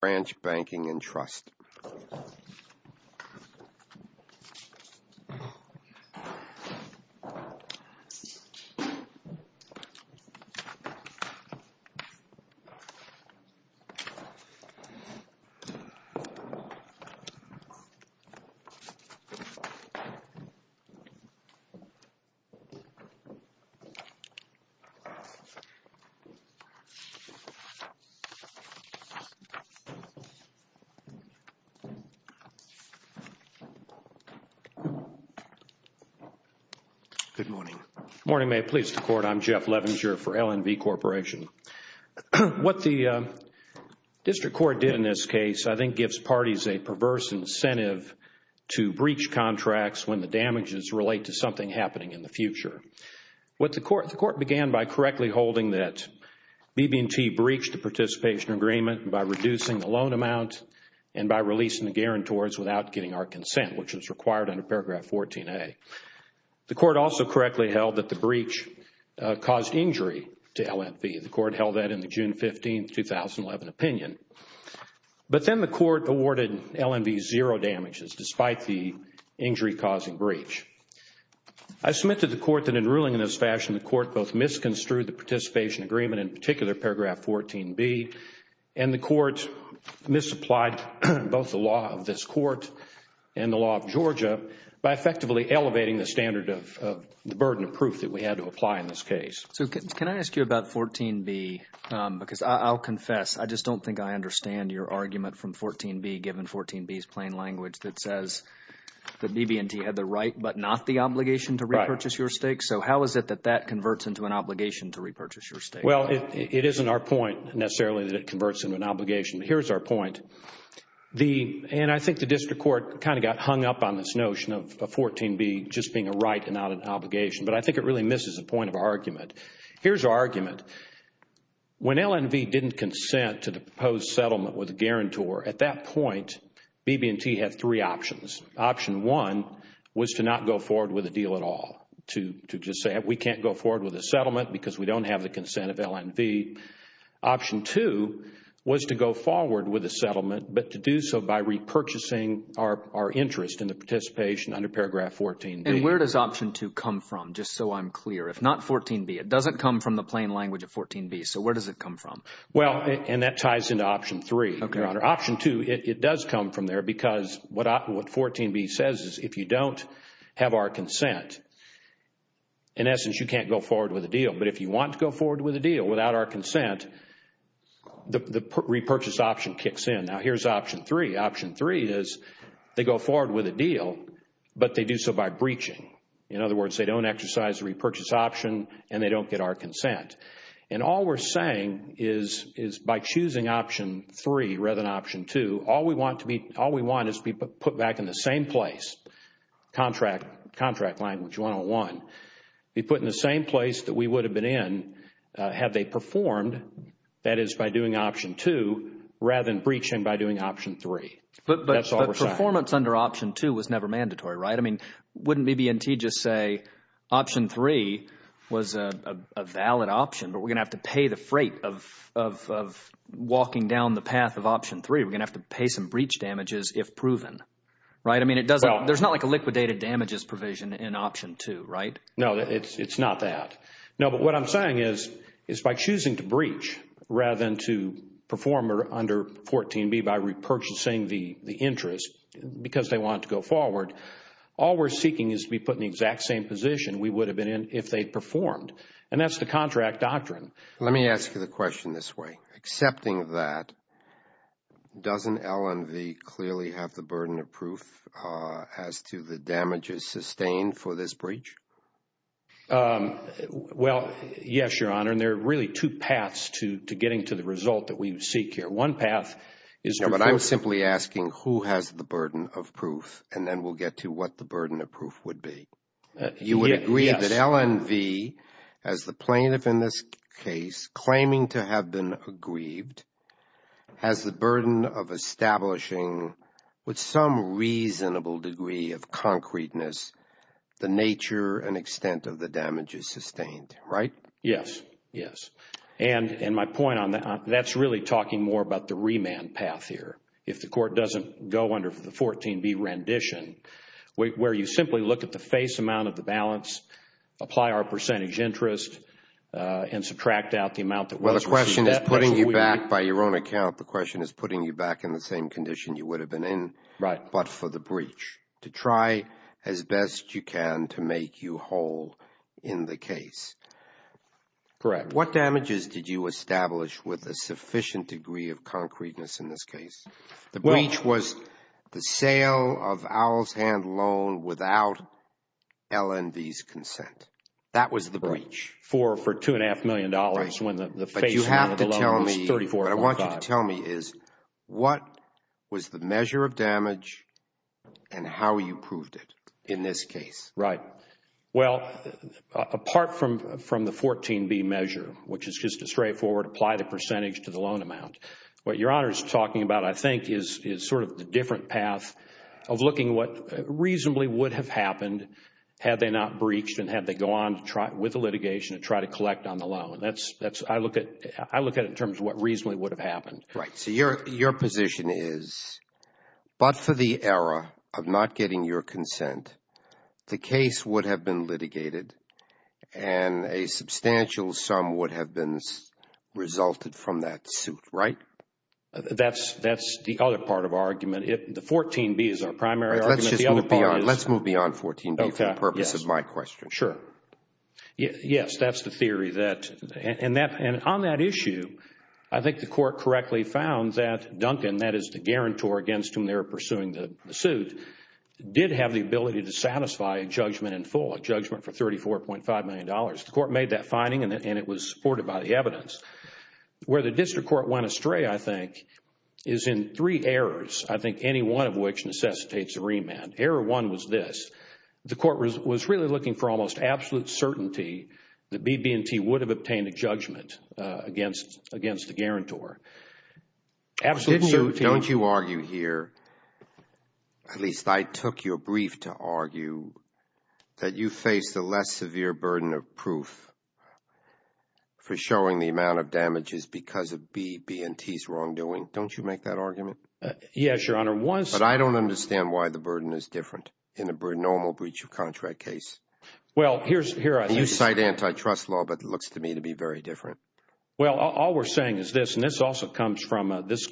Branch Banking and Trust Good morning, may it please the Court, I'm Jeff Levinger for LNV Corporation. What the District Court did in this case, I think, gives parties a perverse incentive to breach contracts when the damages relate to something happening in the future. What the Court, the Court began by correctly holding that BB&T breached the participation agreement by reducing the loan amount and by releasing the guarantors without getting our consent, which was required under Paragraph 14A. The Court also correctly held that the breach caused injury to LNV. The Court held that in the June 15, 2011 opinion. But then the Court awarded LNV zero damages despite the injury-causing breach. I submit to the Court that in ruling in this fashion, the Court both misconstrued the participation agreement, in particular, Paragraph 14B, and the Court misapplied both the law of this Court and the law of Georgia by effectively elevating the standard of the burden of proof that we had to apply in this case. So can I ask you about 14B, because I'll confess, I just don't think I understand your argument from 14B, given 14B's plain language that says that BB&T had the right but not the obligation to repurchase your stakes. So how is it that that converts into an obligation to repurchase your stakes? Well, it isn't our point, necessarily, that it converts into an obligation. But here's our point. And I think the District Court kind of got hung up on this notion of 14B just being a right and not an obligation. But I think it really misses the point of our argument. Here's our argument. When LNV didn't consent to the proposed settlement with a guarantor, at that point, BB&T had three options. Option one was to not go forward with a deal at all, to just say we can't go forward with a settlement because we don't have the consent of LNV. Option two was to go forward with a settlement but to do so by repurchasing our interest in the participation under paragraph 14B. And where does option two come from, just so I'm clear? If not 14B, it doesn't come from the plain language of 14B. So where does it come from? Well, and that ties into option three, Your Honor. Option two, it does come from there because what 14B says is if you don't have our consent, in essence, you can't go forward with a deal. But if you want to go forward with a deal without our consent, the repurchase option kicks in. Now here's option three. Option three is they go forward with a deal but they do so by breaching. In other words, they don't exercise the repurchase option and they don't get our consent. And all we're saying is by choosing option three rather than option two, all we want is to be put back in the same place, contract language 101, be put in the same place that we would have been in had they performed, that is by doing option two rather than breaching by doing option three. That's all we're saying. But performance under option two was never mandatory, right? Wouldn't BB&T just say option three was a valid option but we're going to have to pay the freight of walking down the path of option three. We're going to have to pay some breach damages if proven, right? I mean, there's not like a liquidated damages provision in option two, right? No, it's not that. No, but what I'm saying is by choosing to breach rather than to perform under 14B by we're seeking is to be put in the exact same position we would have been in if they performed and that's the contract doctrine. Let me ask you the question this way. Accepting that, doesn't L&V clearly have the burden of proof as to the damages sustained for this breach? Well, yes, Your Honor, and there are really two paths to getting to the result that we seek here. One path is... But I'm simply asking who has the burden of proof and then we'll get to what the burden of proof would be. You would agree that L&V as the plaintiff in this case claiming to have been aggrieved has the burden of establishing with some reasonable degree of concreteness the nature and extent of the damages sustained, right? Yes, yes. And my point on that, that's really talking more about the remand path here. If the court doesn't go under the 14B rendition where you simply look at the face amount of the balance, apply our percentage interest and subtract out the amount that was received. The question is putting you back by your own account. The question is putting you back in the same condition you would have been in but for the breach to try as best you can to make you whole in the case. Correct. What damages did you establish with a sufficient degree of concreteness in this case? The breach was the sale of Owl's Hand Loan without L&V's consent. That was the breach. For $2.5 million when the face amount of the loan was $34.5. What I want you to tell me is what was the measure of damage and how you proved it in this case? Right. Well, apart from the 14B measure, which is just a straightforward apply the percentage to the loan amount. What Your Honor is talking about I think is sort of the different path of looking what reasonably would have happened had they not breached and had they gone with the litigation to try to collect on the loan. I look at it in terms of what reasonably would have happened. Right. Your position is but for the error of not getting your consent, the case would have been litigated and a substantial sum would have been resulted from that suit, right? That's the other part of our argument. The 14B is our primary argument. Let's move beyond 14B for the purpose of my question. Sure. Yes, that's the theory. And on that issue, I think the court correctly found that Duncan, that is the guarantor against whom they were pursuing the suit, did have the ability to satisfy a judgment in full, a judgment for $34.5 million. The court made that finding and it was supported by the evidence. Where the district court went astray, I think, is in three errors. I think any one of which necessitates a remand. Error one was this. The BB&T would have obtained a judgment against the guarantor. Absolute certainty. Don't you argue here, at least I took your brief to argue, that you face the less severe burden of proof for showing the amount of damages because of BB&T's wrongdoing. Don't you make that argument? Yes, Your Honor. But I don't understand why the burden is different in a normal breach of contract case. Well, here's... You cite antitrust law, but it looks to me to be very different. Well, all we're saying is this, and this also comes from this,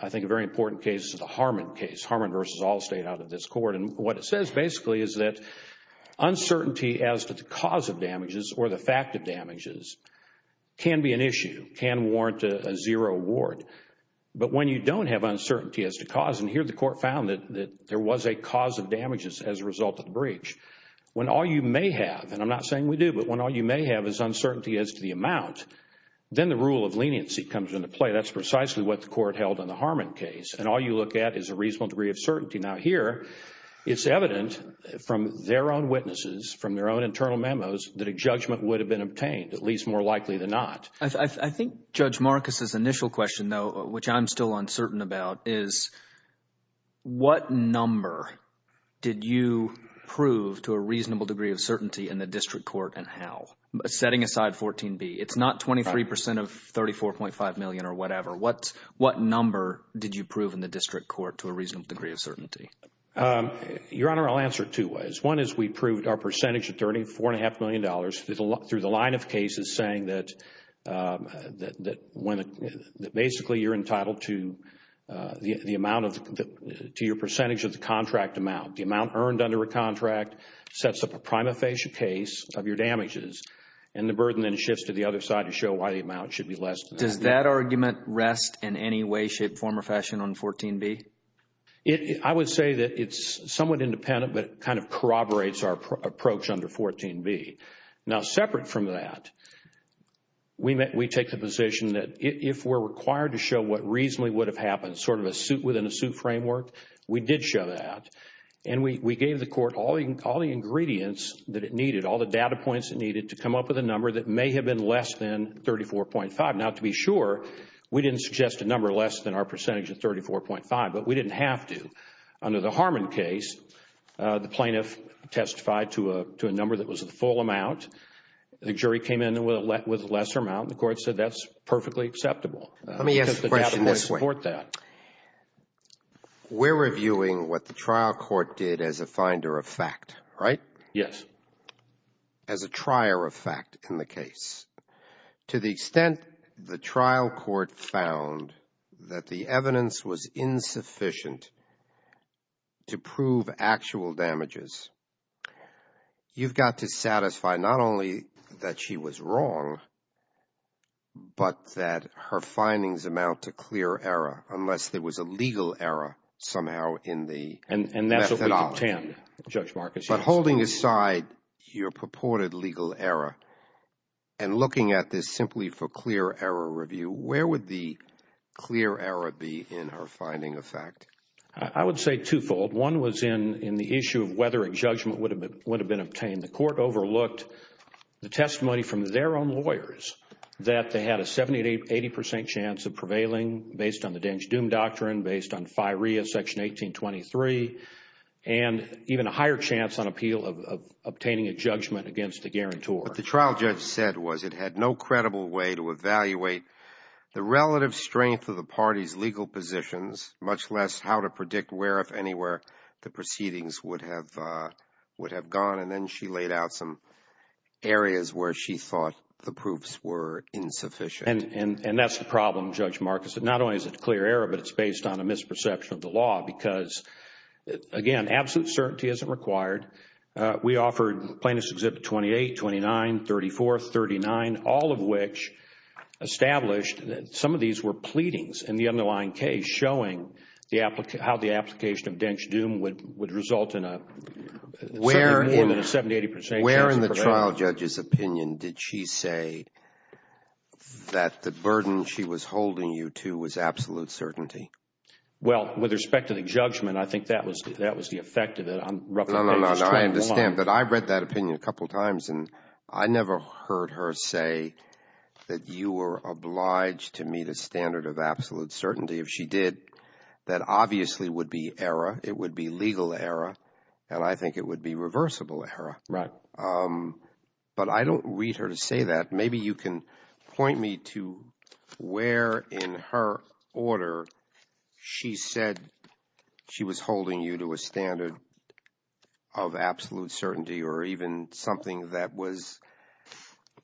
I think, a very important case, the Harmon case. Harmon v. Allstate out of this court. And what it says basically is that uncertainty as to the cause of damages or the fact of damages can be an issue, can warrant a zero award. But when you don't have uncertainty as to cause, and here the court found that there was a cause of damages as a result of the breach. When all you may have, and I'm not saying we do, but when all you may have is uncertainty as to the amount, then the rule of leniency comes into play. That's precisely what the court held in the Harmon case. And all you look at is a reasonable degree of certainty. Now, here, it's evident from their own witnesses, from their own internal memos, that a judgment would have been obtained, at least more likely than not. I think Judge Marcus's initial question, though, which I'm still uncertain about, is what number did you prove to a reasonable degree of certainty in the district court and how? Setting aside 14B, it's not 23% of $34.5 million or whatever. What number did you prove in the district court to a reasonable degree of certainty? Your Honor, I'll answer it two ways. One is we proved our percentage attorney $4.5 million through the line of cases saying that when, basically, you're entitled to the amount of, to your percentage of the contract amount. The amount earned under a contract sets up a prima facie case of your damages and the burden then shifts to the other side to show why the amount should be less than that. Does that argument rest in any way, shape, form, or fashion on 14B? I would say that it's somewhat independent, but it kind of corroborates our approach under 14B. Now, separate from that, we take the position that if we're required to show what reasonably would have happened, sort of within a suit framework, we did show that and we gave the court all the ingredients that it needed, all the data points it needed to come up with a number that may have been less than $34.5. Now, to be sure, we didn't suggest a number less than our percentage of $34.5, but we didn't have to. Under the Harmon case, the plaintiff testified to a number that was the full amount. The jury came in with a lesser amount. The court said that's perfectly acceptable. Let me ask a question this way. Because the data wouldn't support that. We're reviewing what the trial court did as a finder of fact, right? Yes. As a trier of fact in the case. To the extent the trial court found that the evidence was insufficient to prove actual damages, you've got to satisfy not only that she was wrong, but that her findings amount to clear error unless there was a legal error somehow in the methodology. And that's what we contend, Judge Marcus. But holding aside your purported legal error and looking at this simply for clear error review, where would the clear error be in her finding of fact? I would say twofold. One was in the issue of whether a judgment would have been obtained. The court overlooked the testimony from their own lawyers that they had a 70% to 80% chance of prevailing based on the Deng's Doom Doctrine, based on FIREA Section 1823, and even a higher chance on appeal of obtaining a judgment against the guarantor. What the trial judge said was it had no credible way to evaluate the relative strength of the party's legal positions, much less how to predict where, if anywhere, the proceedings would have gone. And then she laid out some areas where she thought the proofs were insufficient. And that's the problem, Judge Marcus. Not only is it clear error, but it's based on a misperception of the law because, again, absolute certainty isn't required. We offered Plaintiffs' Exhibit 28, 29, 34, 39, all of which established that some of these were pleadings in the underlying case showing how the application of Deng's Doom would result in a 70% or more than a 70% to 80% chance of prevailing. Where in the trial judge's opinion did she say that the burden she was holding you to was absolute certainty? Well, with respect to the judgment, I think that was the effect of it. No, no, no, I understand. But I read that opinion a couple of times, and I never heard her say that you were obliged to meet a standard of absolute certainty. If she did, that obviously would be error. It would be legal error, and I think it would be reversible error. Right. But I don't read her to say that. Maybe you can point me to where in her order she said she was holding you to a standard of absolute certainty or even something that was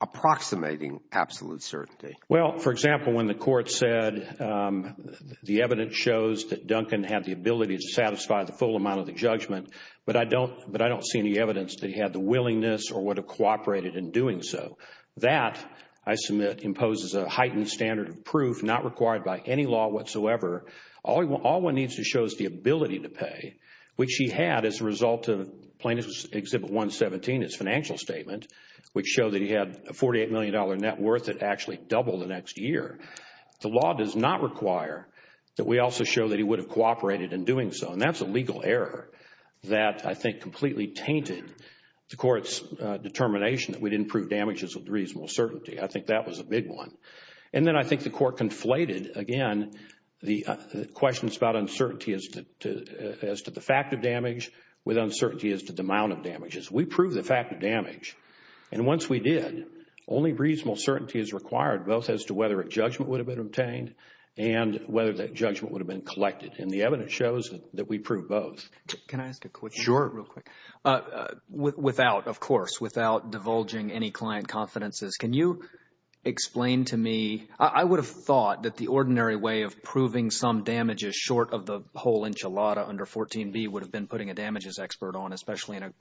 approximating absolute certainty. Well, for example, when the court said the evidence shows that Duncan had the ability to satisfy the full amount of the judgment, but I don't see any evidence that he had the willingness or would have cooperated in doing so. That, I submit, imposes a heightened standard of proof not required by any law whatsoever. All one needs to show is the ability to pay, which he had as a result of Plaintiff's Exhibit 117, his financial statement, which showed that he had a $48 million net worth that actually doubled the next year. The law does not require that we also show that he would have cooperated in doing so, and that's a legal error that I think completely tainted the court's determination that we used reasonable certainty. I think that was a big one. And then I think the court conflated, again, the questions about uncertainty as to the fact of damage with uncertainty as to the amount of damages. We proved the fact of damage, and once we did, only reasonable certainty is required both as to whether a judgment would have been obtained and whether that judgment would have been collected, and the evidence shows that we proved both. Can I ask a question? Sure. Real quick, without, of course, without divulging any client confidences, can you explain to me, I would have thought that the ordinary way of proving some damages short of the whole enchilada under 14b would have been putting a damages expert on, especially in a,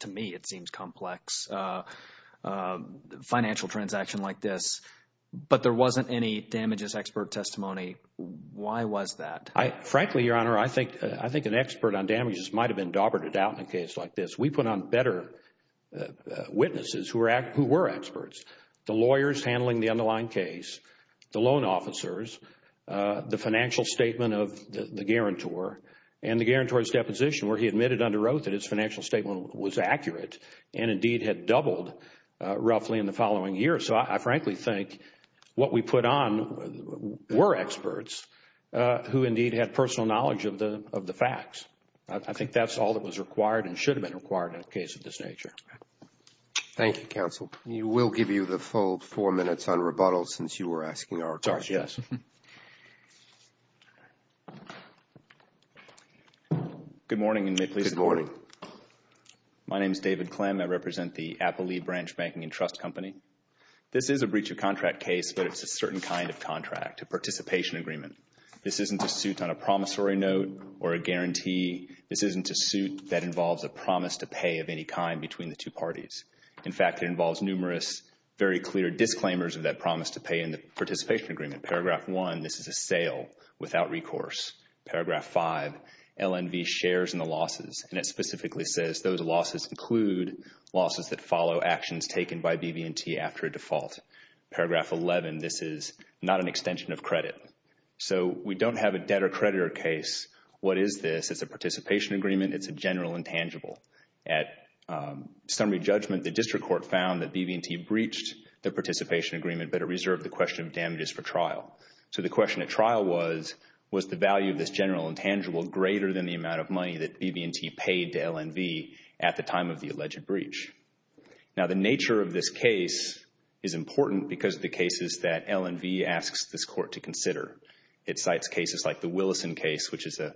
to me it seems complex, financial transaction like this, but there wasn't any damages expert testimony. Why was that? Frankly, Your Honor, I think an expert on damages might have been daubered out in a case like this. We put on better witnesses who were experts, the lawyers handling the underlying case, the loan officers, the financial statement of the guarantor, and the guarantor's deposition where he admitted under oath that his financial statement was accurate and indeed had doubled roughly in the following year. I frankly think what we put on were experts who indeed had personal knowledge of the facts. I think that's all that was required and should have been required in a case of this nature. Thank you, counsel. We will give you the full four minutes on rebuttals since you were asking our question. Sorry, yes. Good morning and may it please the Court. Good morning. My name is David Clem. I represent the Appley Branch Banking and Trust Company. This is a breach of contract case, but it's a certain kind of contract, a participation agreement. This isn't a suit on a promissory note or a guarantee. This isn't a suit that involves a promise to pay of any kind between the two parties. In fact, it involves numerous very clear disclaimers of that promise to pay in the participation agreement. Paragraph 1, this is a sale without recourse. Paragraph 5, LNV shares in the losses, and it specifically says those losses include losses that follow actions taken by BB&T after a default. Paragraph 11, this is not an extension of credit. So we don't have a debtor-creditor case. What is this? It's a participation agreement. It's a general intangible. At summary judgment, the district court found that BB&T breached the participation agreement, but it reserved the question of damages for trial. So the question at trial was, was the value of this general intangible greater than the Now, the nature of this case is important because of the cases that LNV asks this court to consider. It cites cases like the Willison case, which is a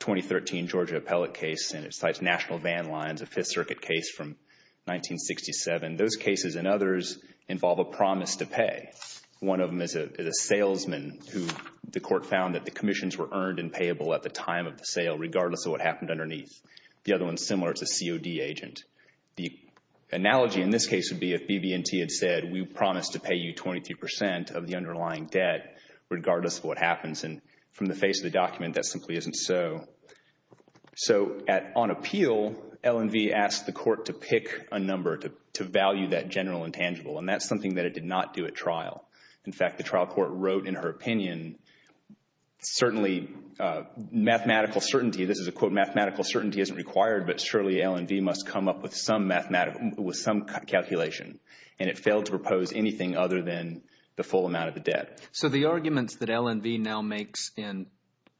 2013 Georgia appellate case, and it cites National Van Lines, a Fifth Circuit case from 1967. Those cases and others involve a promise to pay. One of them is a salesman who the court found that the commissions were earned and payable at the time of the sale, regardless of what happened underneath. The other one is similar. It's a COD agent. The analogy in this case would be if BB&T had said, we promise to pay you 23% of the underlying debt, regardless of what happens. And from the face of the document, that simply isn't so. So on appeal, LNV asked the court to pick a number to value that general intangible, and that's something that it did not do at trial. In fact, the trial court wrote in her opinion, certainly mathematical certainty, this is mathematical certainty isn't required, but surely LNV must come up with some mathematical, with some calculation. And it failed to propose anything other than the full amount of the debt. So the arguments that LNV now makes in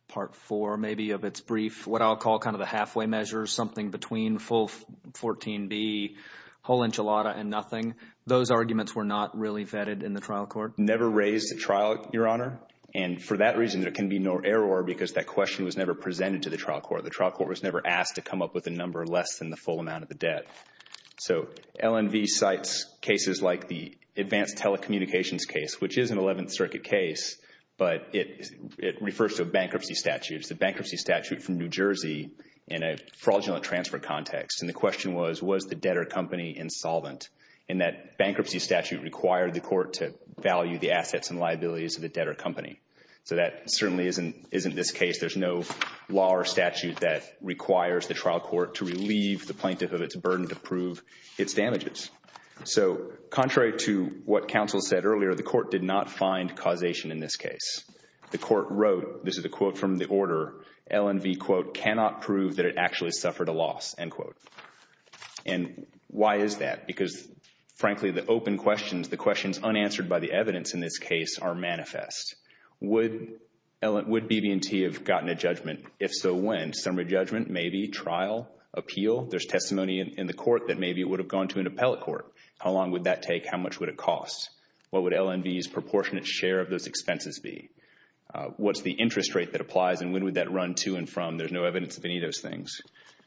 part four, maybe of its brief, what I'll call kind of the halfway measure, something between full 14B, whole enchilada, and nothing, those arguments were not really vetted in the trial court? Never raised at trial, Your Honor. And for that reason, there can be no error because that question was never presented to the trial court. The trial court was never asked to come up with a number less than the full amount of the debt. So LNV cites cases like the advanced telecommunications case, which is an 11th Circuit case, but it refers to bankruptcy statutes. The bankruptcy statute from New Jersey in a fraudulent transfer context, and the question was, was the debtor company insolvent? And that bankruptcy statute required the court to value the assets and liabilities of the debtor company. So that certainly isn't this case. There's no law or statute that requires the trial court to relieve the plaintiff of its burden to prove its damages. So contrary to what counsel said earlier, the court did not find causation in this case. The court wrote, this is a quote from the order, LNV, quote, cannot prove that it actually suffered a loss, end quote. And why is that? Because, frankly, the open questions, the questions unanswered by the evidence in this case are manifest. Would BB&T have gotten a judgment? If so, when? Summary judgment, maybe, trial, appeal? There's testimony in the court that maybe it would have gone to an appellate court. How long would that take? How much would it cost? What would LNV's proportionate share of those expenses be? What's the interest rate that applies, and when would that run to and from? There's no evidence of any of those things.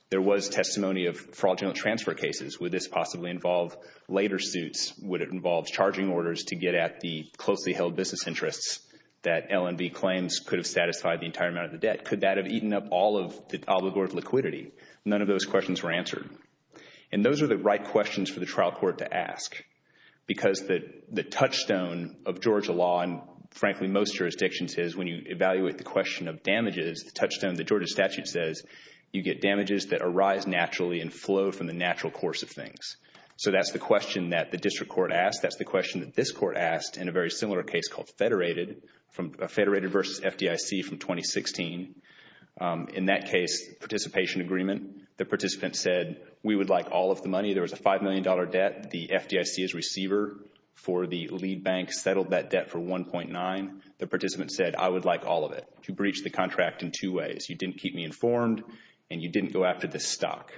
There was testimony of fraudulent transfer cases. Would this possibly involve later suits? Would it involve charging orders to get at the closely held business interests that LNV claims could have satisfied the entire amount of the debt? Could that have eaten up all of the obligor of liquidity? None of those questions were answered. And those are the right questions for the trial court to ask because the touchstone of Georgia law and, frankly, most jurisdictions is when you evaluate the question of damages, the touchstone, the Georgia statute says, you get damages that arise naturally and flow from the natural course of things. So that's the question that the district court asked. That's the question that this court asked in a very similar case called Federated versus FDIC from 2016. In that case, participation agreement. The participant said, we would like all of the money. There was a $5 million debt. The FDIC's receiver for the lead bank settled that debt for 1.9. The participant said, I would like all of it. You breached the contract in two ways. You didn't keep me informed and you didn't go after the stock.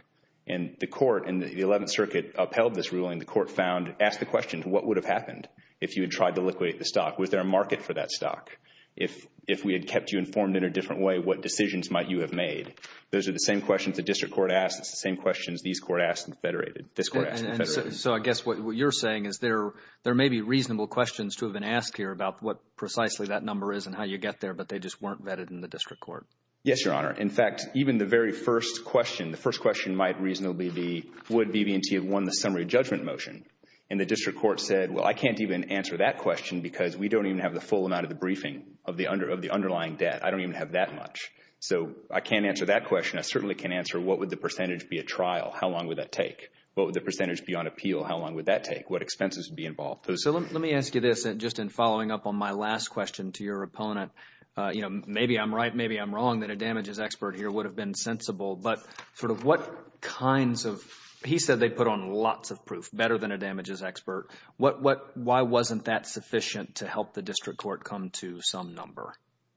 And the court in the 11th Circuit upheld this ruling. The court found, asked the question, what would have happened if you had tried to liquidate the stock? Was there a market for that stock? If we had kept you informed in a different way, what decisions might you have made? Those are the same questions the district court asked. It's the same questions these court asked in Federated. This court asked in Federated. So I guess what you're saying is there may be reasonable questions to have been asked here about what precisely that number is and how you get there, but they just weren't vetted in the district court. Yes, Your Honor. In fact, even the very first question, the first question might reasonably be, would BB&T have won the summary judgment motion? And the district court said, well, I can't even answer that question because we don't even have the full amount of the briefing of the underlying debt. I don't even have that much. So I can't answer that question. I certainly can't answer, what would the percentage be at trial? How long would that take? What would the percentage be on appeal? How long would that take? What expenses would be involved? So let me ask you this, just in following up on my last question to your opponent. Maybe I'm right, maybe I'm wrong that a damages expert here would have been sensible, but sort of what kinds of, he said they put on lots of proof, better than a damages expert. Why wasn't that sufficient to help the district court come to some number?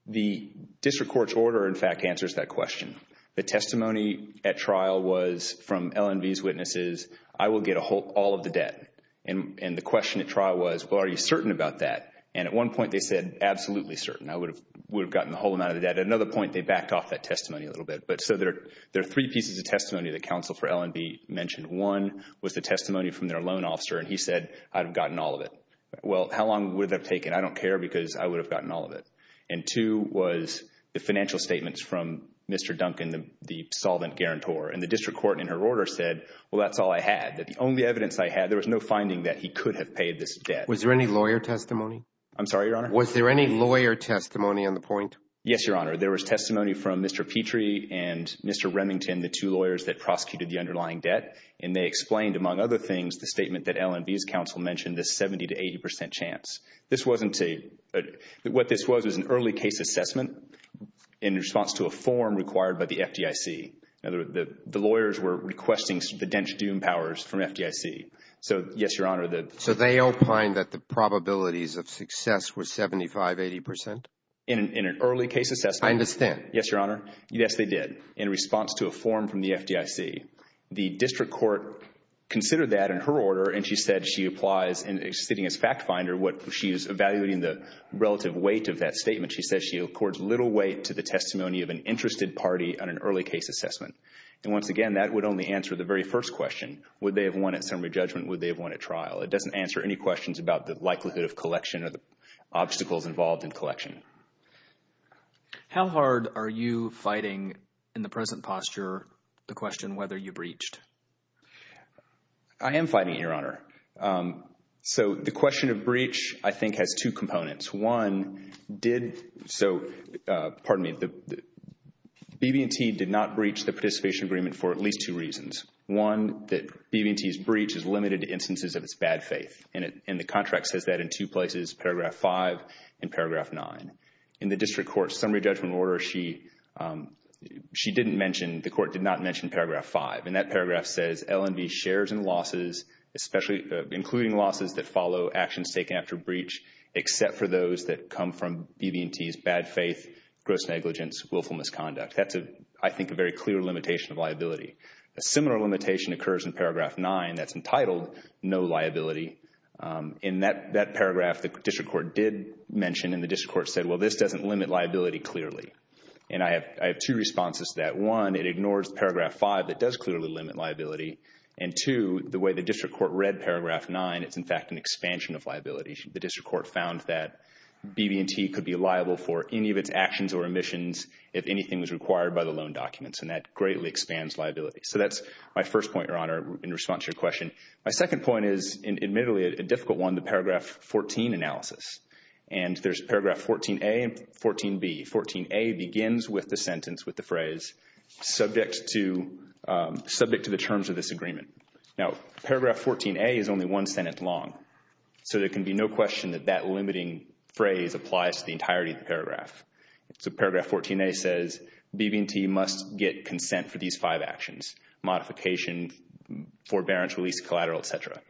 The district court's order, in fact, answers that question. The testimony at trial was from LNV's witnesses, I will get all of the debt. And the question at trial was, well, are you certain about that? And at one point they said, absolutely certain. Would have gotten the whole amount of the debt. At another point, they backed off that testimony a little bit. But so there are three pieces of testimony that counsel for LNV mentioned. One was the testimony from their loan officer and he said, I've gotten all of it. Well, how long would that have taken? I don't care because I would have gotten all of it. And two was the financial statements from Mr. Duncan, the solvent guarantor. And the district court in her order said, well, that's all I had. That the only evidence I had, there was no finding that he could have paid this debt. Was there any lawyer testimony? I'm sorry, Your Honor? Was there any lawyer testimony on the point? Yes, Your Honor. There was testimony from Mr. Petrie and Mr. Remington, the two lawyers that prosecuted the underlying debt. And they explained, among other things, the statement that LNV's counsel mentioned, this 70 to 80 percent chance. This wasn't a, what this was, was an early case assessment in response to a form required by the FDIC. In other words, the lawyers were requesting the dench dune powers from FDIC. So, yes, Your Honor, the. Probabilities of success were 75, 80 percent? In an early case assessment. I understand. Yes, Your Honor. Yes, they did. In response to a form from the FDIC, the district court considered that in her order. And she said she applies, sitting as fact finder, what she is evaluating the relative weight of that statement. She says she accords little weight to the testimony of an interested party on an early case assessment. And once again, that would only answer the very first question. Would they have won at summary judgment? Would they have won at trial? It doesn't answer any questions about the likelihood of collection or the obstacles involved in collection. How hard are you fighting, in the present posture, the question whether you breached? I am fighting it, Your Honor. So, the question of breach, I think, has two components. One, did, so, pardon me, the BB&T did not breach the participation agreement for at least two reasons. One, that BB&T's breach is limited to instances of its bad faith. And the contract says that in two places, paragraph 5 and paragraph 9. In the district court's summary judgment order, she didn't mention, the court did not mention paragraph 5. And that paragraph says, L&V shares in losses, especially, including losses that follow actions taken after breach, except for those that come from BB&T's bad faith, gross negligence, willful misconduct. That's, I think, a very clear limitation of liability. A similar limitation occurs in paragraph 9, that's entitled, no liability. In that paragraph, the district court did mention, and the district court said, well, this doesn't limit liability clearly. And I have two responses to that. One, it ignores paragraph 5, that does clearly limit liability. And two, the way the district court read paragraph 9, it's, in fact, an expansion of liability. The district court found that BB&T could be liable for any of its actions or omissions if anything was required by the loan documents. And that greatly expands liability. So that's my first point, Your Honor, in response to your question. My second point is, admittedly, a difficult one, the paragraph 14 analysis. And there's paragraph 14a and 14b. 14a begins with the sentence, with the phrase, subject to the terms of this agreement. Now, paragraph 14a is only one sentence long. So there can be no question that that limiting phrase applies to the entirety of the paragraph. So paragraph 14a says BB&T must get consent for these five actions, modification, forbearance, release, collateral, et cetera.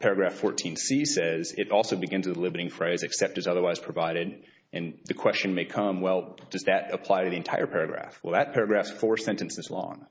Paragraph 14c says it also begins with the limiting phrase, except as otherwise provided. And the question may come, well, does that apply to the entire paragraph? Well, that paragraph's four sentences long.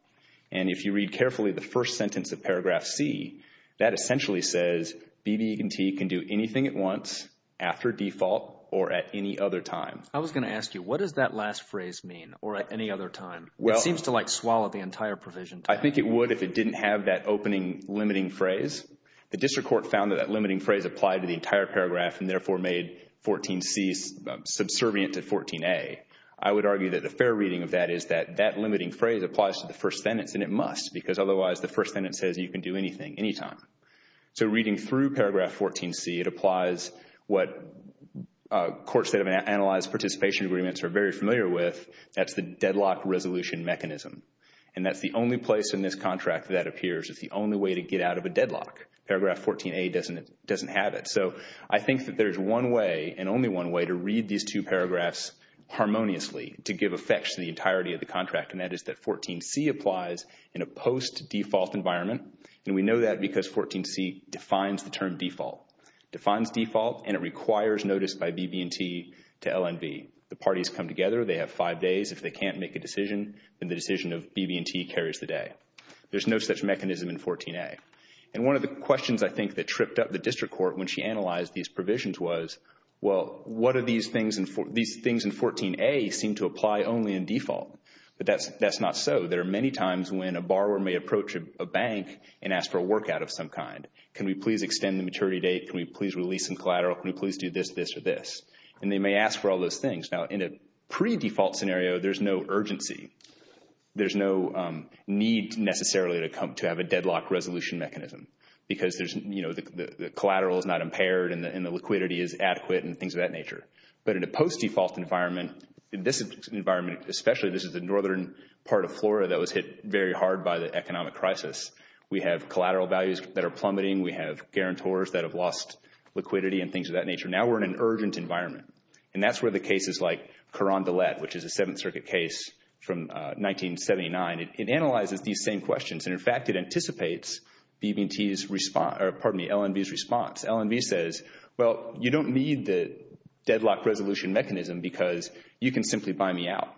And if you read carefully the first sentence of paragraph c, that essentially says BB&T can do anything at once, after default, or at any other time. I was going to ask you, what does that last phrase mean, or at any other time? It seems to, like, swallow the entire provision. I think it would if it didn't have that opening limiting phrase. The district court found that that limiting phrase applied to the entire paragraph and therefore made 14c subservient to 14a. I would argue that the fair reading of that is that that limiting phrase applies to the first sentence. And it must, because otherwise the first sentence says you can do anything, anytime. So reading through paragraph 14c, it applies what courts that have analyzed participation agreements are very familiar with. That's the deadlock resolution mechanism. And that's the only place in this contract that appears as the only way to get out of a deadlock. Paragraph 14a doesn't have it. So I think that there's one way, and only one way, to read these two paragraphs harmoniously to give effect to the entirety of the contract. And that is that 14c applies in a post-default environment. And we know that because 14c defines the term default. Defines default, and it requires notice by BB&T to LNB. The parties come together. They have five days. If they can't make a decision, then the decision of BB&T carries the day. There's no such mechanism in 14a. And one of the questions I think that tripped up the district court when she analyzed these provisions was, well, what are these things in 14a seem to apply only in default? But that's not so. There are many times when a borrower may approach a bank and ask for a workout of some kind. Can we please extend the maturity date? Can we please release some collateral? Can we please do this, this, or this? And they may ask for all those things. Now, in a pre-default scenario, there's no urgency. There's no need necessarily to have a deadlock resolution mechanism because the collateral is not impaired and the liquidity is adequate and things of that nature. But in a post-default environment, in this environment especially, this is the northern part of flora that was hit very hard by the economic crisis. We have collateral values that are plummeting. We have guarantors that have lost liquidity and things of that nature. Now we're in an urgent environment. And that's where the cases like Caran d'Aulette, which is a Seventh Circuit case from 1979, it analyzes these same questions. And in fact, it anticipates BB&T's response—or pardon me, LNV's response. LNV says, well, you don't need the deadlock resolution mechanism because you can simply buy me out.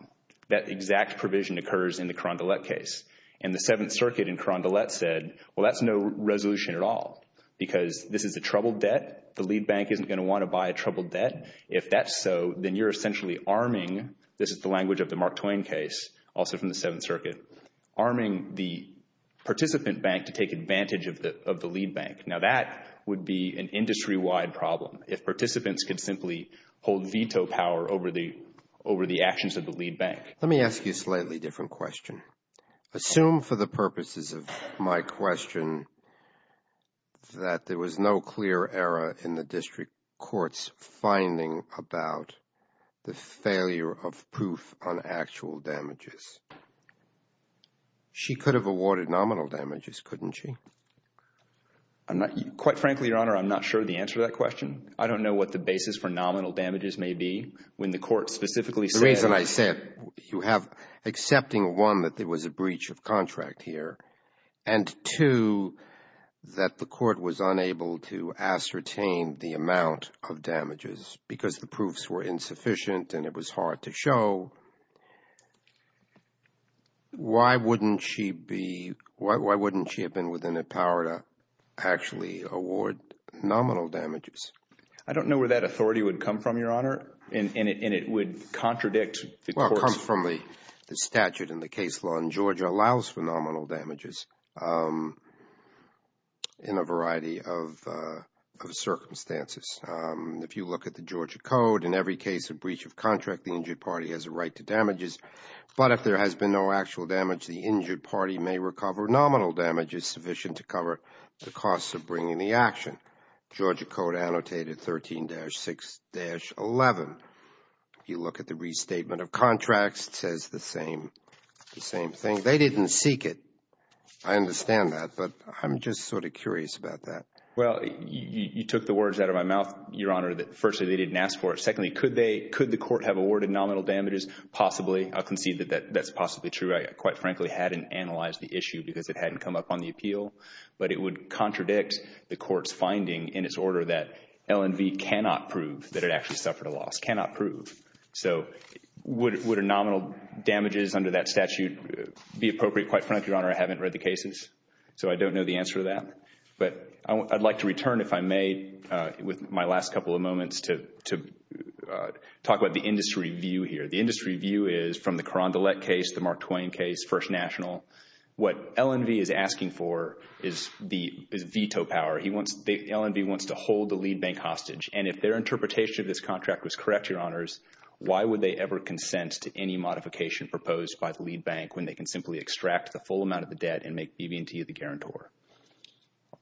That exact provision occurs in the Caran d'Aulette case. And the Seventh Circuit in Caran d'Aulette said, well, that's no resolution at all because this is a troubled debt. The lead bank isn't going to want to buy a troubled debt. If that's so, then you're essentially arming—this is the language of the Mark Twain case, also from the Seventh Circuit—arming the participant bank to take advantage of the lead bank. Now that would be an industry-wide problem. If participants could simply hold veto power over the actions of the lead bank. Let me ask you a slightly different question. Assume for the purposes of my question that there was no clear error in the district court's finding about the failure of proof on actual damages. She could have awarded nominal damages, couldn't she? Quite frankly, Your Honor, I'm not sure the answer to that question. I don't know what the basis for nominal damages may be when the court specifically said— The reason I said, you have—accepting, one, that there was a breach of contract here, and two, that the court was unable to ascertain the amount of damages because the proofs were insufficient and it was hard to show, why wouldn't she be—why wouldn't she have been within the power to actually award nominal damages? I don't know where that authority would come from, Your Honor, and it would contradict the court's— Well, it comes from the statute and the case law in Georgia allows for nominal damages in a variety of circumstances. If you look at the Georgia Code, in every case of breach of contract, the injured party has a right to damages, but if there has been no actual damage, the injured party may recover nominal damages sufficient to cover the costs of bringing the action. Georgia Code annotated 13-6-11. If you look at the restatement of contracts, it says the same thing. They didn't seek it. I understand that, but I'm just sort of curious about that. Well, you took the words out of my mouth, Your Honor, that firstly, they didn't ask for it. Secondly, could they—could the court have awarded nominal damages? Possibly. I concede that that's possibly true. Quite frankly, I hadn't analyzed the issue because it hadn't come up on the appeal, but it would contradict the court's finding in its order that L&V cannot prove that it actually suffered a loss, cannot prove. So would a nominal damages under that statute be appropriate? Quite frankly, Your Honor, I haven't read the cases, so I don't know the answer to that, but I'd like to return, if I may, with my last couple of moments to talk about the industry view here. The industry view is, from the Carondelet case, the Mark Twain case, First National, what L&V is asking for is veto power. He wants—L&V wants to hold the lead bank hostage, and if their interpretation of this contract was correct, Your Honors, why would they ever consent to any modification proposed by the lead bank when they can simply extract the full amount of the debt and make BB&T the guarantor?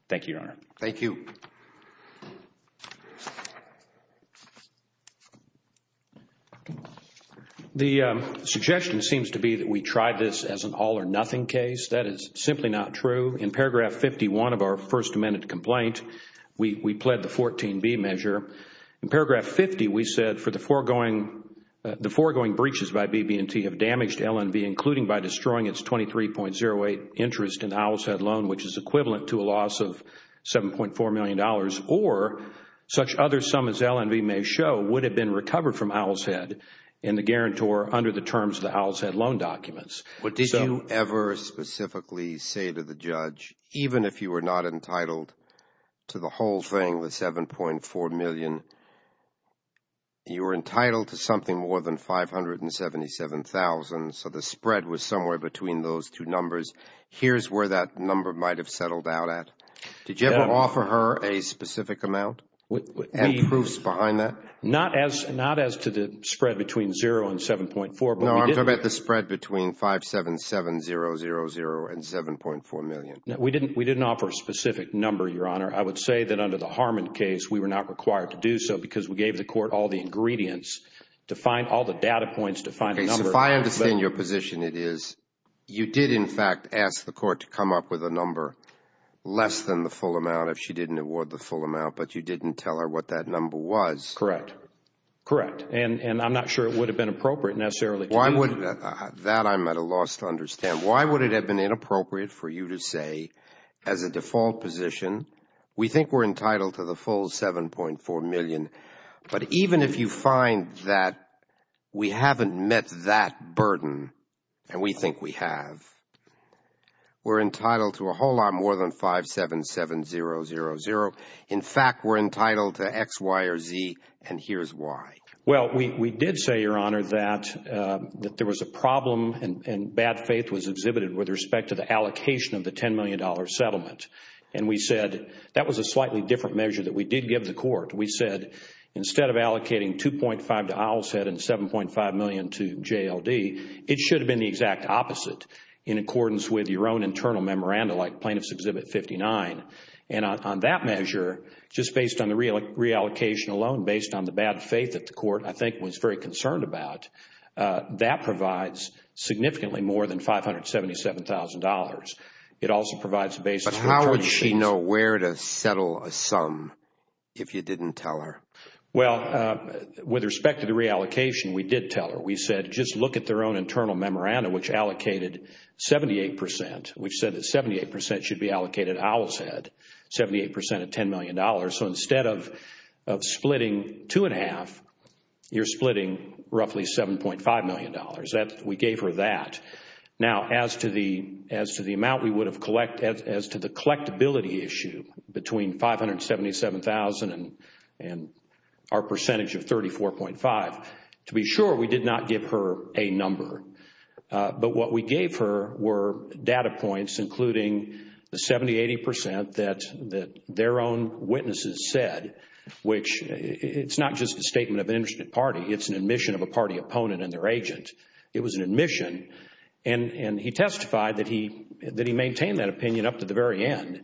Thank you, Your Honor. Thank you. The suggestion seems to be that we tried this as an all or nothing case. That is simply not true. In paragraph 51 of our First Amendment complaint, we pled the 14B measure. In paragraph 50, we said, for the foregoing—the foregoing breaches by BB&T have damaged L&V, including by destroying its 23.08 interest in the Owl's Head loan, which is equivalent to a loss of $7.4 million, or such other sum as L&V may show would have been recovered from Owl's Head in the guarantor under the terms of the Owl's Head loan documents. But did you ever specifically say to the judge, even if you were not entitled to the whole thing, the $7.4 million, you were entitled to something more than $577,000, so the spread was somewhere between those two numbers. Here's where that number might have settled out at. Did you ever offer her a specific amount and proofs behind that? Not as to the spread between $0 and $7.4, but we did— No, I'm talking about the spread between $577,000 and $7.4 million. We didn't offer a specific number, Your Honor. I would say that under the Harmon case, we were not required to do so because we gave the court all the ingredients to find all the data points to find the number— Okay, so if I understand your position, it is you did, in fact, ask the court to come up with a number less than the full amount if she didn't award the full amount, but you didn't tell her what that number was. Correct, correct, and I'm not sure it would have been appropriate necessarily to do that. That I'm at a loss to understand. Why would it have been inappropriate for you to say, as a default position, we think we're entitled to the full $7.4 million, but even if you find that we haven't met that burden, and we think we have, we're entitled to a whole lot more than $577,000. In fact, we're entitled to X, Y, or Z, and here's why. Well, we did say, Your Honor, that there was a problem and bad faith was exhibited with respect to the allocation of the $10 million settlement, and we said that was a slightly different measure that we did give the court. We said instead of allocating $2.5 million to Owlset and $7.5 million to JLD, it should have been the exact opposite in accordance with your own internal memoranda like Plaintiff's That measure, just based on the reallocation alone, based on the bad faith that the court, I think, was very concerned about, that provides significantly more than $577,000. It also provides the basis for attorney's fees. But how would she know where to settle a sum if you didn't tell her? Well, with respect to the reallocation, we did tell her. We said, just look at their own internal memoranda, which allocated 78%, which said that 78% should be allocated to Owlset, 78% of $10 million. So instead of splitting $2.5 million, you're splitting roughly $7.5 million. We gave her that. Now, as to the amount we would have collected, as to the collectability issue between $577,000 and our percentage of $34.5 million, to be sure, we did not give her a number. But what we gave her were data points, including the 70%, 80% that their own witnesses said, which it's not just a statement of an interested party. It's an admission of a party opponent and their agent. It was an admission. And he testified that he maintained that opinion up to the very end,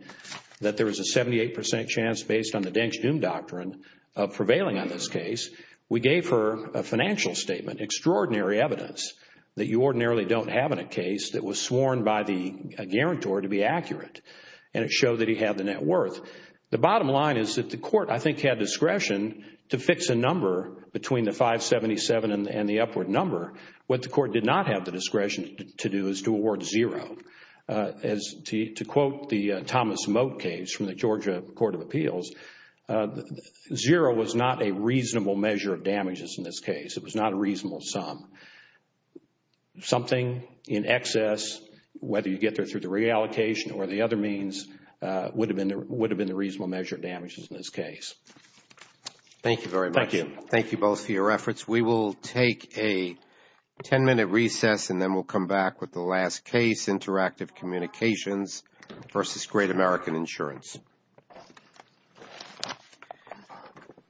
that there was a 78% chance, based on the Deng's Doom Doctrine, of prevailing on this case. We gave her a financial statement, extraordinary evidence that you ordinarily don't have in a case that was sworn by the guarantor to be accurate. And it showed that he had the net worth. The bottom line is that the court, I think, had discretion to fix a number between the $577,000 and the upward number. What the court did not have the discretion to do is to award zero. To quote the Thomas Moat case from the Georgia Court of Appeals, zero was not a reasonable measure of damages in this case. It was not a reasonable sum. Something in excess, whether you get there through the reallocation or the other means, would have been the reasonable measure of damages in this case. Thank you very much. Thank you. Thank you both for your efforts. We will take a 10-minute recess and then we'll come back with the last case, Interactive Communications v. Great American Insurance. Thank you.